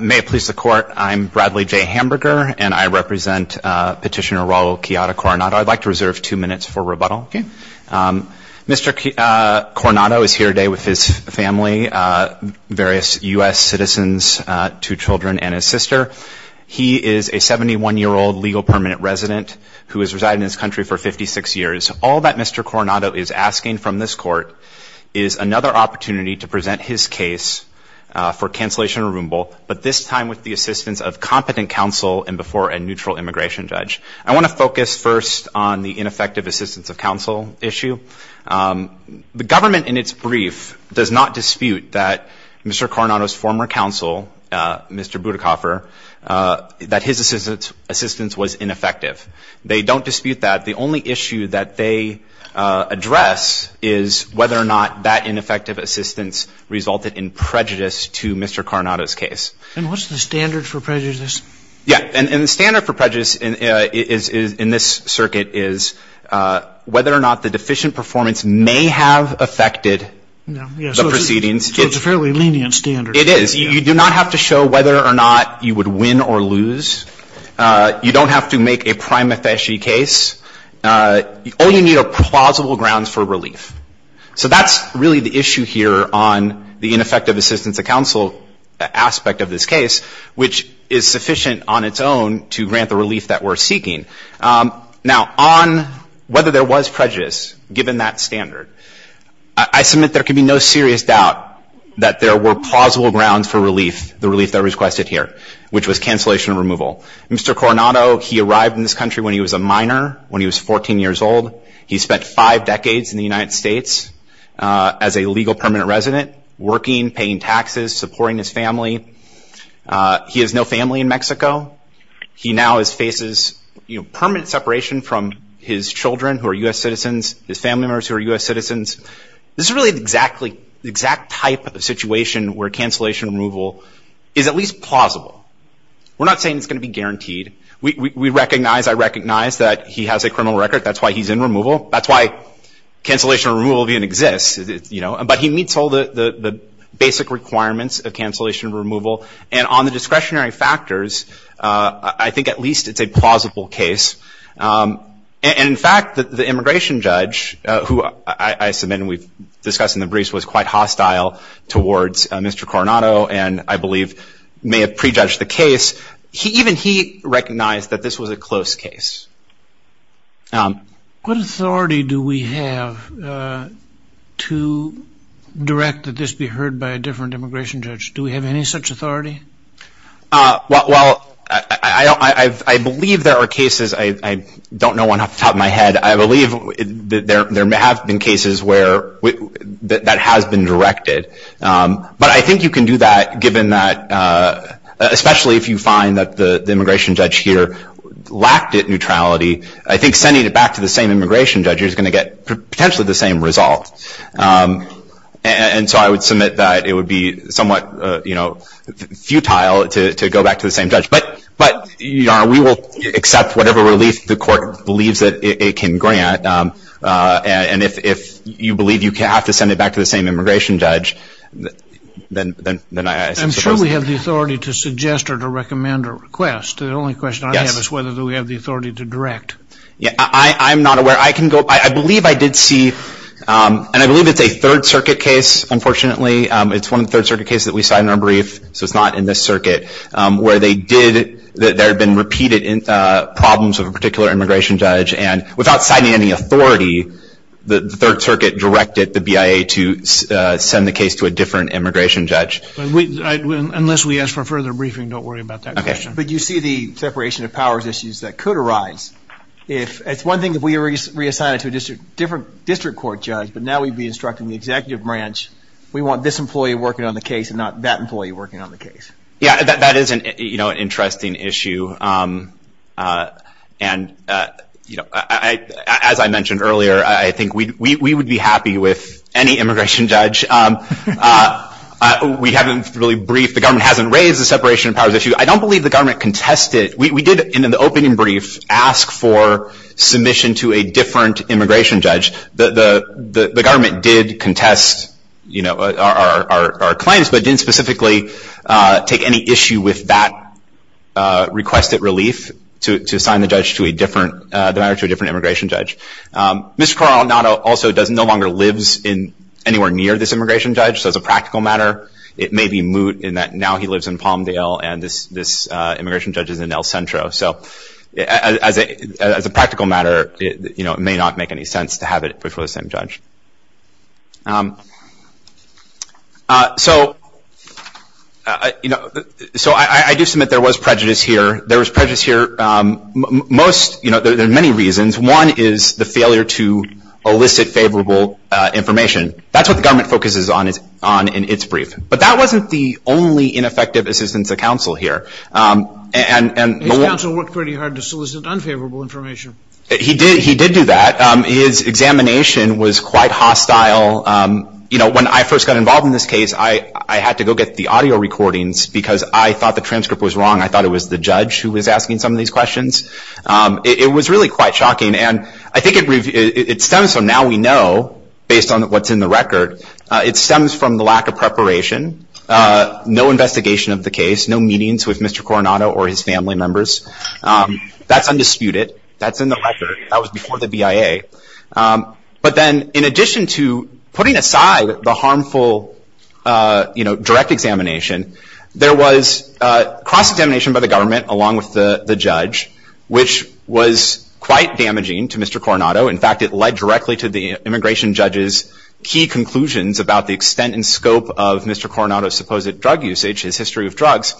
May it please the court, I'm Bradley J. Hamburger, and I represent Petitioner Raul Quijada Coronado. I'd like to reserve two minutes for rebuttal. Okay. Mr. Coronado is here today with his family, various U.S. citizens, two children, and his sister. He is a 71-year-old legal permanent resident who has resided in this country for 56 years. All that Mr. Coronado is asking from this court is another opportunity to present his case for cancellation or removal, but this time with the assistance of competent counsel and before a neutral immigration judge. I want to focus first on the ineffective assistance of counsel issue. The government in its brief does not dispute that Mr. Coronado's former counsel, Mr. Budakoffer, that his assistance was ineffective. They don't dispute that. The only issue that they address is whether or not that ineffective assistance resulted in prejudice to Mr. Coronado's case. And what's the standard for prejudice? Yeah. And the standard for prejudice in this circuit is whether or not the deficient performance may have affected the proceedings. So it's a fairly lenient standard. It is. You do not have to show whether or not you would win or lose. You don't have to make a prima facie case. All you need are plausible grounds for relief. So that's really the issue here on the ineffective assistance of counsel aspect of this case, which is sufficient on its own to grant the relief that we're seeking. Now, on whether there was prejudice, given that standard, I submit there can be no serious doubt that there were plausible grounds for relief, the relief that we requested here, which was cancellation and removal. Mr. Coronado, he arrived in this country when he was a minor, when he was 14 years old. He spent five decades in the United States as a legal permanent resident, working, paying taxes, supporting his family. He has no family in Mexico. He now faces permanent separation from his children who are U.S. citizens, his family members who are U.S. citizens. This is really the exact type of situation where cancellation and removal is at least plausible. We're not saying it's going to be guaranteed. We recognize, I recognize that he has a criminal record. That's why he's in removal. That's why cancellation and removal even exists. But he meets all the basic requirements of cancellation and removal. And on the discretionary factors, I think at least it's a plausible case. And in fact, the immigration judge, who I submit we've discussed in the briefs, was quite hostile towards Mr. Coronado and I believe may have prejudged the case. Even he recognized that this was a close case. What authority do we have to direct that this be heard by a different immigration judge? Do we have any such authority? Well, I believe there are cases. I don't know one off the top of my head. I believe there have been cases where that has been directed. But I think you can do that given that, especially if you find that the immigration judge here lacked it neutrality, I think sending it back to the same immigration judge is going to get potentially the same result. And so I would submit that it would be somewhat futile to go back to the same judge. But, Your Honor, we will accept whatever relief the court believes that it can grant. And if you believe you have to send it back to the same immigration judge, then I suppose. I'm sure we have the authority to suggest or to recommend or request. The only question I have is whether we have the authority to direct. I'm not aware. I believe I did see, and I believe it's a Third Circuit case, unfortunately. It's one of the Third Circuit cases that we cited in our brief, so it's not in this circuit, where there had been repeated problems of a particular immigration judge. And without citing any authority, the Third Circuit directed the BIA to send the case to a different immigration judge. Unless we ask for a further briefing, don't worry about that question. But you see the separation of powers issues that could arise. It's one thing if we reassign it to a different district court judge, but now we'd be instructing the executive branch, we want this employee working on the case and not that employee working on the case. Yeah, that is an interesting issue. And, you know, as I mentioned earlier, I think we would be happy with any immigration judge. We haven't really briefed. The government hasn't raised the separation of powers issue. I don't believe the government contested. We did, in the opening brief, ask for submission to a different immigration judge. The government did contest our claims, but didn't specifically take any issue with that request at relief to assign the matter to a different immigration judge. Mr. Coronado also no longer lives anywhere near this immigration judge, so as a practical matter, it may be moot in that now he lives in Palmdale and this immigration judge is in El Centro. So as a practical matter, you know, it may not make any sense to have it before the same judge. So I do submit there was prejudice here. There was prejudice here most, you know, there are many reasons. One is the failure to elicit favorable information. That's what the government focuses on in its brief. But that wasn't the only ineffective assistance of counsel here. His counsel worked pretty hard to solicit unfavorable information. He did do that. His examination was quite hostile. You know, when I first got involved in this case, I had to go get the audio recordings because I thought the transcript was wrong. I thought it was the judge who was asking some of these questions. It was really quite shocking. And I think it stems from now we know, based on what's in the record, it stems from the lack of preparation, no investigation of the case, no meetings with Mr. Coronado or his family members. That's undisputed. That's in the record. That was before the BIA. But then in addition to putting aside the harmful, you know, direct examination, there was cross-examination by the government along with the judge, which was quite damaging to Mr. Coronado. In fact, it led directly to the immigration judge's key conclusions about the extent and scope of Mr. Coronado's supposed drug usage, his history of drugs.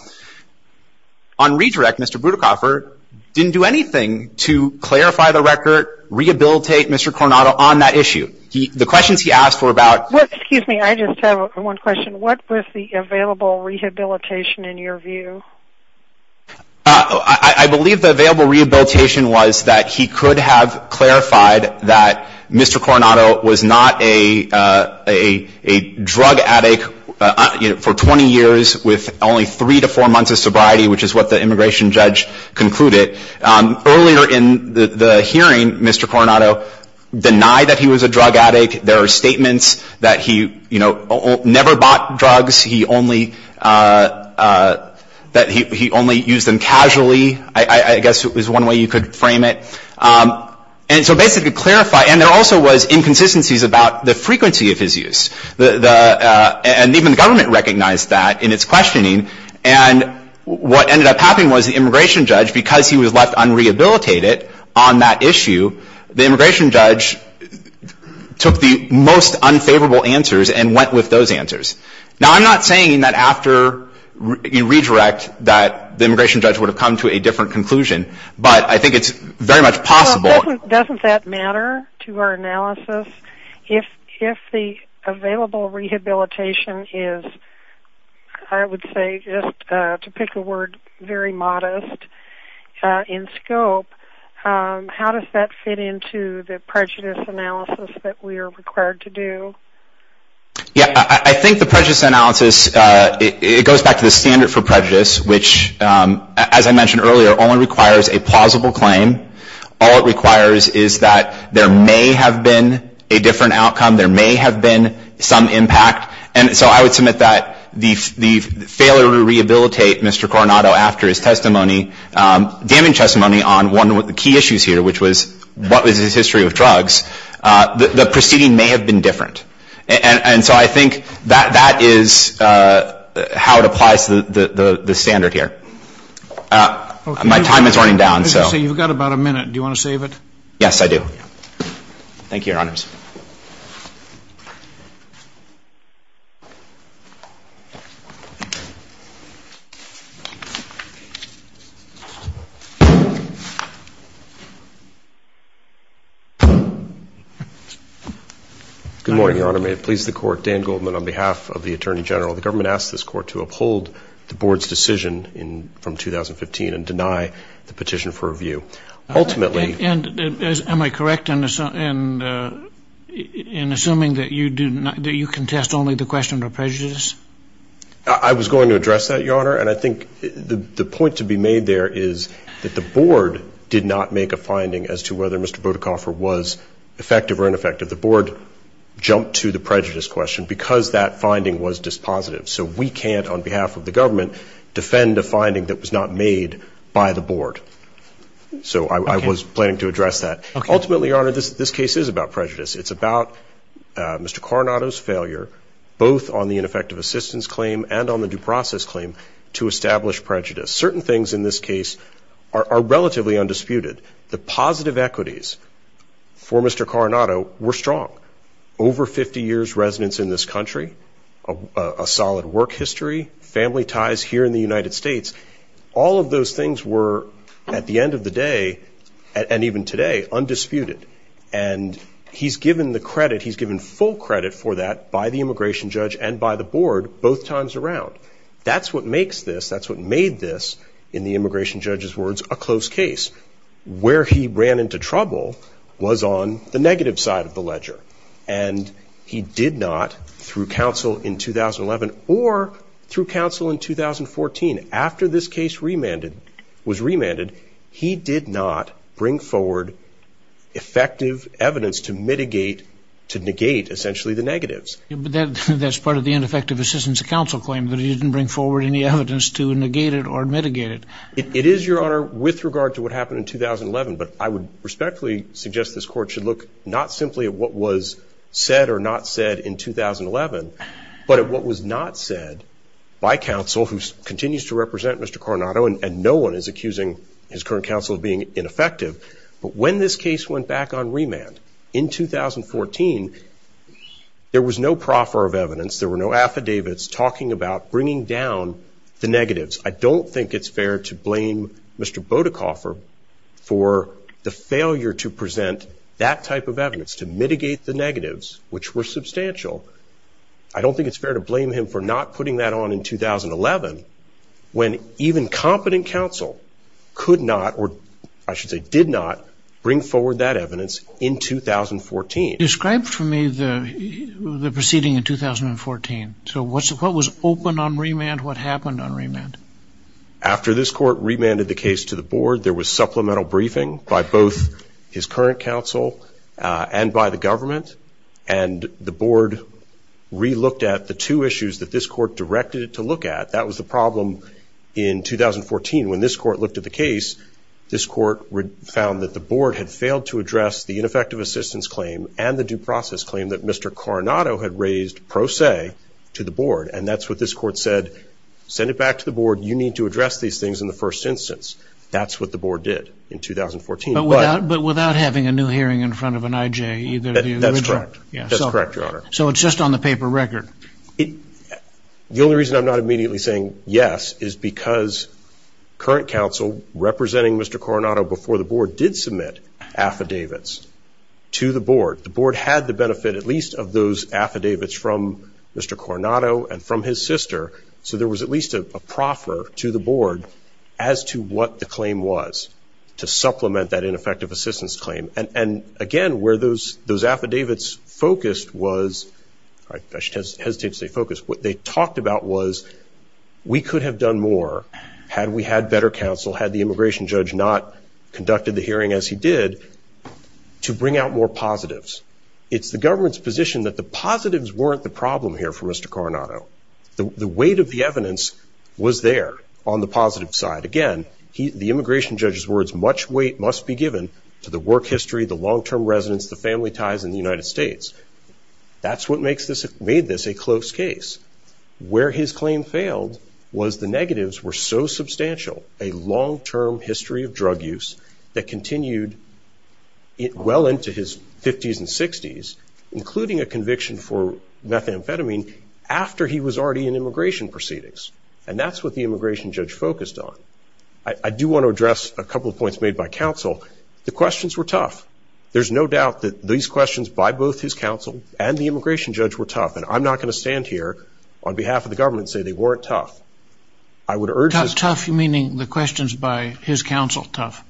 On redirect, Mr. Brutakoffer didn't do anything to clarify the record, rehabilitate Mr. Coronado on that issue. The questions he asked were about — Excuse me. I just have one question. What was the available rehabilitation in your view? I believe the available rehabilitation was that he could have clarified that Mr. Coronado was not a drug addict for 20 years with only three to four months of sobriety, which is what the immigration judge concluded. Earlier in the hearing, Mr. Coronado denied that he was a drug addict. There are statements that he, you know, never bought drugs. He only used them casually. I guess it was one way you could frame it. And so basically clarify — and there also was inconsistencies about the frequency of his use. And even the government recognized that in its questioning. And what ended up happening was the immigration judge, because he was left unrehabilitated on that issue, the immigration judge took the most unfavorable answers and went with those answers. Now, I'm not saying that after you redirect that the immigration judge would have come to a different conclusion, but I think it's very much possible — Well, doesn't that matter to our analysis? If the available rehabilitation is, I would say, just to pick a word, very modest in scope, how does that fit into the prejudice analysis that we are required to do? Yeah, I think the prejudice analysis, it goes back to the standard for prejudice, which, as I mentioned earlier, only requires a plausible claim. All it requires is that there may have been a different outcome, there may have been some impact. And so I would submit that the failure to rehabilitate Mr. Coronado after his testimony, damaged testimony on one of the key issues here, which was what was his history with drugs, the proceeding may have been different. And so I think that is how it applies to the standard here. My time is running down. I was going to say, you've got about a minute. Do you want to save it? Yes, I do. Thank you, Your Honors. Good morning, Your Honor. May it please the Court, Dan Goldman on behalf of the Attorney General. The government asked this Court to uphold the Board's decision from 2015 and deny the petition for review. Ultimately — Am I correct in assuming that you contest only the question of prejudice? I was going to address that, Your Honor. And I think the point to be made there is that the Board did not make a finding as to whether Mr. Bodocoffer was effective or ineffective. The Board jumped to the prejudice question because that finding was dispositive. So we can't, on behalf of the government, defend a finding that was not made by the Board. So I was planning to address that. Ultimately, Your Honor, this case is about prejudice. It's about Mr. Coronado's failure, both on the ineffective assistance claim and on the due process claim, to establish prejudice. Certain things in this case are relatively undisputed. The positive equities for Mr. Coronado were strong. Over 50 years residence in this country, a solid work history, family ties here in the United States. All of those things were, at the end of the day, and even today, undisputed. And he's given the credit, he's given full credit for that by the immigration judge and by the Board both times around. That's what makes this, that's what made this, in the immigration judge's words, a close case. Where he ran into trouble was on the negative side of the ledger. And he did not, through counsel in 2011 or through counsel in 2014, after this case remanded, was remanded, he did not bring forward effective evidence to mitigate, to negate, essentially, the negatives. But that's part of the ineffective assistance counsel claim, that he didn't bring forward any evidence to negate it or mitigate it. It is, Your Honor, with regard to what happened in 2011, but I would respectfully suggest this Court should look not simply at what was said or not said in 2011, but at what was not said by counsel, who continues to represent Mr. Coronado, and no one is accusing his current counsel of being ineffective. But when this case went back on remand in 2014, there was no proffer of evidence, there were no affidavits talking about bringing down the negatives. I don't think it's fair to blame Mr. Bodecoffer for the failure to present that type of evidence, to mitigate the negatives, which were substantial. I don't think it's fair to blame him for not putting that on in 2011, when even competent counsel could not, or I should say did not, bring forward that evidence in 2014. Describe for me the proceeding in 2014. So what was open on remand, what happened on remand? After this Court remanded the case to the Board, there was supplemental briefing by both his current counsel and by the government, and the Board re-looked at the two issues that this Court directed it to look at. That was the problem in 2014. When this Court looked at the case, this Court found that the Board had failed to address the ineffective assistance claim and the due process claim that Mr. Coronado had raised pro se to the Board, and that's what this Court said, send it back to the Board, you need to address these things in the first instance. That's what the Board did in 2014. But without having a new hearing in front of an IJ, either of you would reject? That's correct. That's correct, Your Honor. So it's just on the paper record? The only reason I'm not immediately saying yes is because current counsel representing Mr. Coronado before the Board did submit affidavits to the Board. The Board had the benefit at least of those affidavits from Mr. Coronado and from his sister, so there was at least a proffer to the Board as to what the claim was to supplement that ineffective assistance claim. And, again, where those affidavits focused was, I hesitate to say focused, what they talked about was we could have done more had we had better counsel, had the immigration judge not conducted the hearing as he did, to bring out more positives. It's the government's position that the positives weren't the problem here for Mr. Coronado. The weight of the evidence was there on the positive side. Again, the immigration judge's words, much weight must be given to the work history, the long-term residence, the family ties in the United States. That's what made this a close case. Where his claim failed was the negatives were so substantial, a long-term history of drug use that continued well into his 50s and 60s, including a conviction for methamphetamine, after he was already in immigration proceedings. And that's what the immigration judge focused on. I do want to address a couple of points made by counsel. The questions were tough. There's no doubt that these questions by both his counsel and the immigration judge were tough, and I'm not going to stand here on behalf of the government and say they weren't tough. I would urge the ---- Tough, meaning the questions by his counsel tough?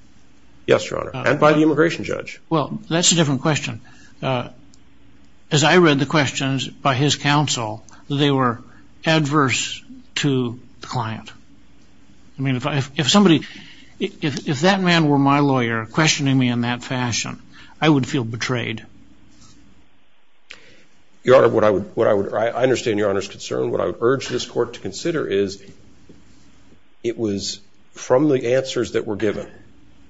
Yes, Your Honor, and by the immigration judge. Well, that's a different question. As I read the questions by his counsel, they were adverse to the client. I mean, if somebody ---- if that man were my lawyer, questioning me in that fashion, I would feel betrayed. Your Honor, what I would ---- I understand Your Honor's concern. What I would urge this Court to consider is it was from the answers that were given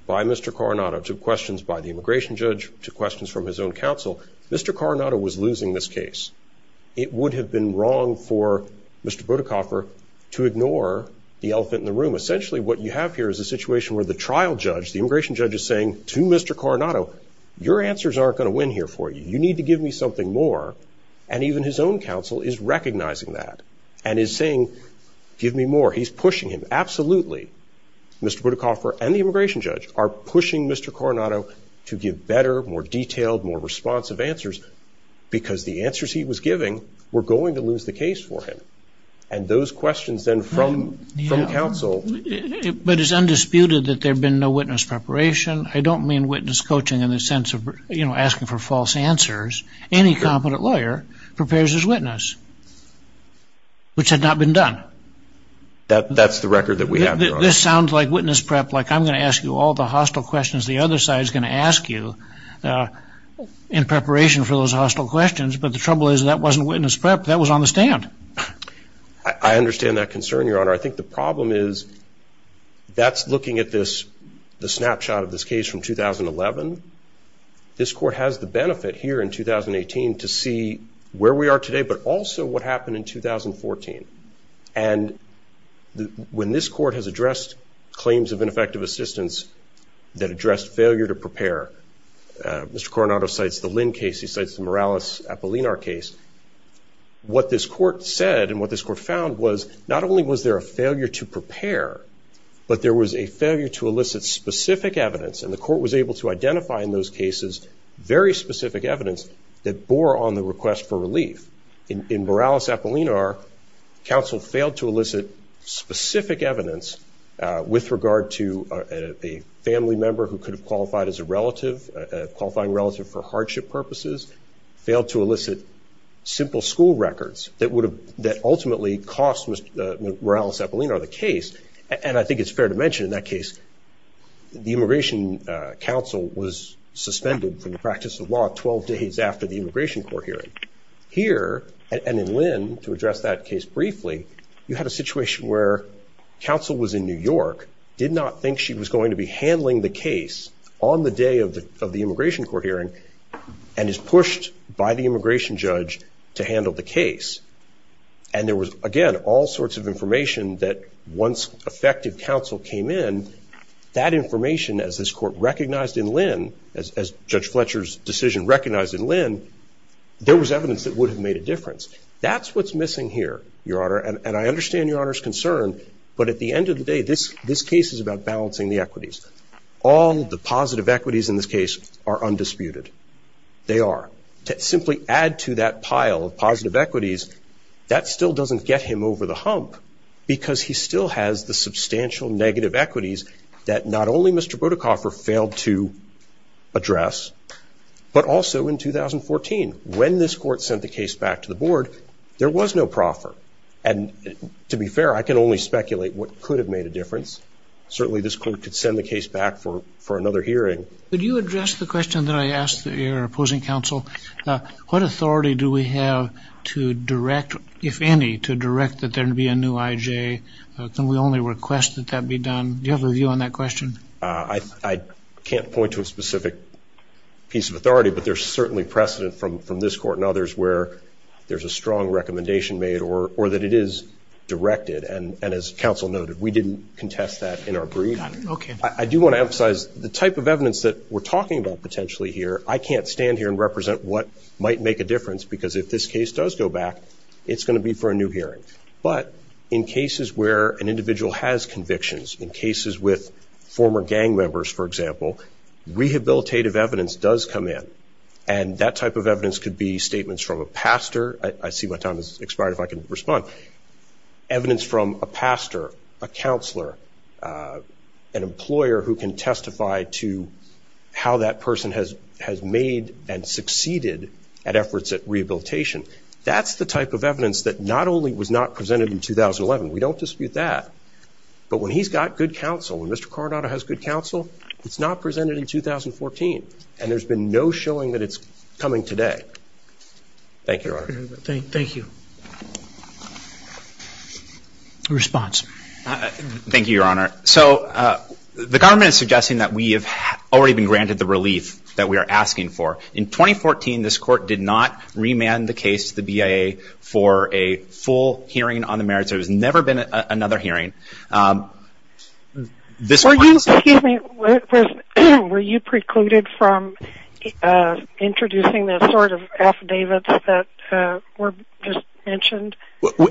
by Mr. Coronado to questions by the immigration judge to questions from his own counsel, Mr. Coronado was losing this case. It would have been wrong for Mr. Budakoffer to ignore the elephant in the room. Essentially, what you have here is a situation where the trial judge, the immigration judge, is saying to Mr. Coronado, your answers aren't going to win here for you. You need to give me something more. And even his own counsel is recognizing that and is saying, give me more. He's pushing him. Absolutely, Mr. Budakoffer and the immigration judge are pushing Mr. Coronado to give better, more detailed, more responsive answers because the answers he was giving were going to lose the case for him. And those questions then from counsel ---- But it's undisputed that there had been no witness preparation. I don't mean witness coaching in the sense of, you know, asking for false answers. Any competent lawyer prepares his witness, which had not been done. That's the record that we have, Your Honor. This sounds like witness prep, like I'm going to ask you all the hostile questions the other side is going to ask you in preparation for those hostile questions. But the trouble is that wasn't witness prep. That was on the stand. I understand that concern, Your Honor. I think the problem is that's looking at this, the snapshot of this case from 2011. This court has the benefit here in 2018 to see where we are today, but also what happened in 2014. And when this court has addressed claims of ineffective assistance that addressed failure to prepare, Mr. Coronado cites the Lynn case. He cites the Morales-Apollinar case. What this court said and what this court found was not only was there a failure to prepare, but there was a failure to elicit specific evidence, and the court was able to identify in those cases very specific evidence that bore on the request for relief. In Morales-Apollinar, counsel failed to elicit specific evidence with regard to a family member who could have qualified as a relative, qualifying relative for hardship purposes, failed to elicit simple school records that ultimately cost Morales-Apollinar the case, and I think it's fair to mention in that case, the immigration counsel was suspended from the practice of law 12 days after the immigration court hearing. Here, and in Lynn, to address that case briefly, you had a situation where counsel was in New York, did not think she was going to be handling the case on the day of the immigration court hearing, and is pushed by the immigration judge to handle the case. And there was, again, all sorts of information that once effective counsel came in, that information, as this court recognized in Lynn, as Judge Fletcher's decision recognized in Lynn, there was evidence that would have made a difference. That's what's missing here, Your Honor, and I understand Your Honor's concern, but at the end of the day, this case is about balancing the equities. All the positive equities in this case are undisputed. They are. To simply add to that pile of positive equities, that still doesn't get him over the hump, because he still has the substantial negative equities that not only Mr. Burdickhoffer failed to address, but also in 2014, when this court sent the case back to the board, there was no proffer, and to be fair, I can only speculate what could have made a difference. Certainly, this court could send the case back for another hearing. Could you address the question that I asked your opposing counsel? What authority do we have to direct, if any, to direct that there be a new IJ? Can we only request that that be done? Do you have a view on that question? I can't point to a specific piece of authority, but there's certainly precedent from this court and others where there's a strong recommendation made or that it is directed, and as counsel noted, we didn't contest that in our briefing. I do want to emphasize the type of evidence that we're talking about potentially here, I can't stand here and represent what might make a difference, because if this case does go back, it's going to be for a new hearing. But in cases where an individual has convictions, in cases with former gang members, for example, rehabilitative evidence does come in, and that type of evidence could be statements from a pastor. I see my time has expired, if I can respond. Evidence from a pastor, a counselor, an employer who can testify to how that person has made and succeeded at efforts at rehabilitation. That's the type of evidence that not only was not presented in 2011, we don't dispute that, but when he's got good counsel, when Mr. Coronado has good counsel, it's not presented in 2014, and there's been no showing that it's coming today. Thank you, Your Honor. Thank you. A response. Thank you, Your Honor. So the government is suggesting that we have already been granted the relief that we are asking for. In 2014, this court did not remand the case to the BIA for a full hearing on the merits. There has never been another hearing. Excuse me. Were you precluded from introducing the sort of affidavits that were just mentioned?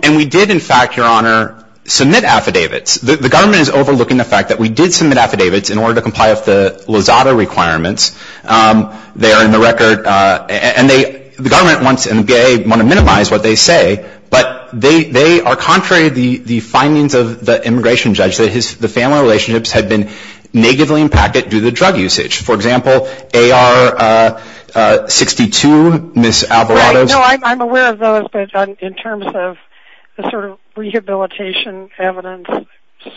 And we did, in fact, Your Honor, submit affidavits. The government is overlooking the fact that we did submit affidavits in order to comply with the Lozada requirements. They are in the record, and the government wants, and the BIA want to minimize what they say, but they are contrary to the findings of the immigration judge, that the family relationships have been negatively impacted due to drug usage. For example, AR-62, Ms. Alvarado's. No, I'm aware of those, but in terms of the sort of rehabilitation evidence.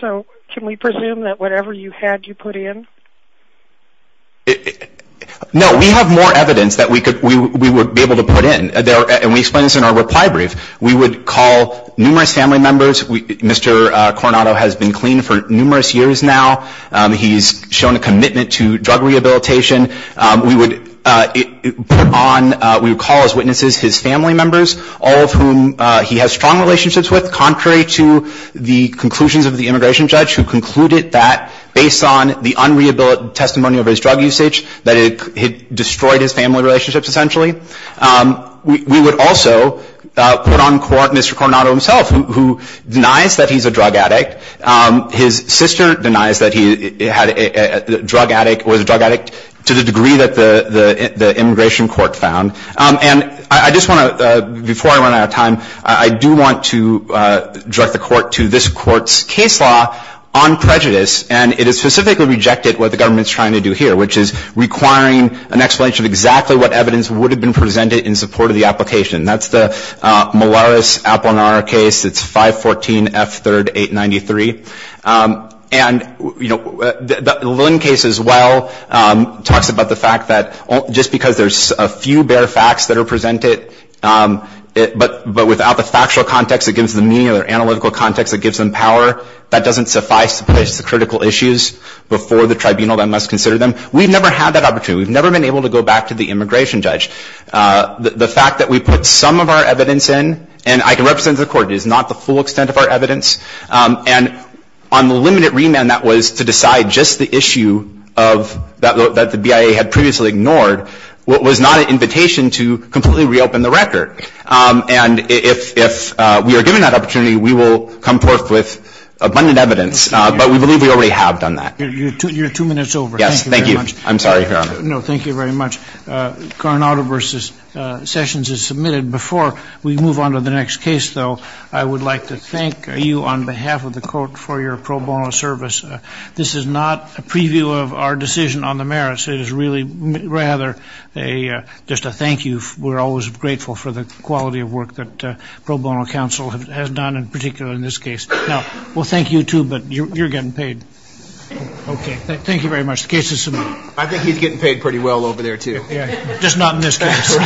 So can we presume that whatever you had, you put in? No, we have more evidence that we would be able to put in, and we explain this in our reply brief. We would call numerous family members. Mr. Coronado has been clean for numerous years now. He's shown a commitment to drug rehabilitation. We would put on, we would call as witnesses his family members, all of whom he has strong relationships with, contrary to the conclusions of the immigration judge, who concluded that, based on the unrehabilitated testimony of his drug usage, that it destroyed his family relationships, essentially. We would also put on court Mr. Coronado himself, who denies that he's a drug addict. His sister denies that he was a drug addict to the degree that the immigration court found. And I just want to, before I run out of time, I do want to direct the court to this court's case law on prejudice, and it is specifically rejected what the government is trying to do here, which is requiring an explanation of exactly what evidence would have been presented in support of the application. That's the Molaris-Applenauer case. It's 514F3rd893. And, you know, the Linn case as well talks about the fact that just because there's a few bare facts that are presented, but without the factual context that gives them meaning or the analytical context that gives them power, that doesn't suffice to place the critical issues before the tribunal that must consider them. We've never had that opportunity. We've never been able to go back to the immigration judge. The fact that we put some of our evidence in, and I can represent the court, it is not the full extent of our evidence, and on the limited remand that was to decide just the issue that the BIA had previously ignored was not an invitation to completely reopen the record. And if we are given that opportunity, we will come forth with abundant evidence, but we believe we already have done that. You're two minutes over. Yes, thank you. I'm sorry, Your Honor. No, thank you very much. Coronado v. Sessions is submitted. Before we move on to the next case, though, I would like to thank you on behalf of the court for your pro bono service. This is not a preview of our decision on the merits. It is really rather just a thank you. We're always grateful for the quality of work that pro bono counsel has done, in particular in this case. Well, thank you, too, but you're getting paid. Thank you very much. The case is submitted. I think he's getting paid pretty well over there, too. Just not in this case.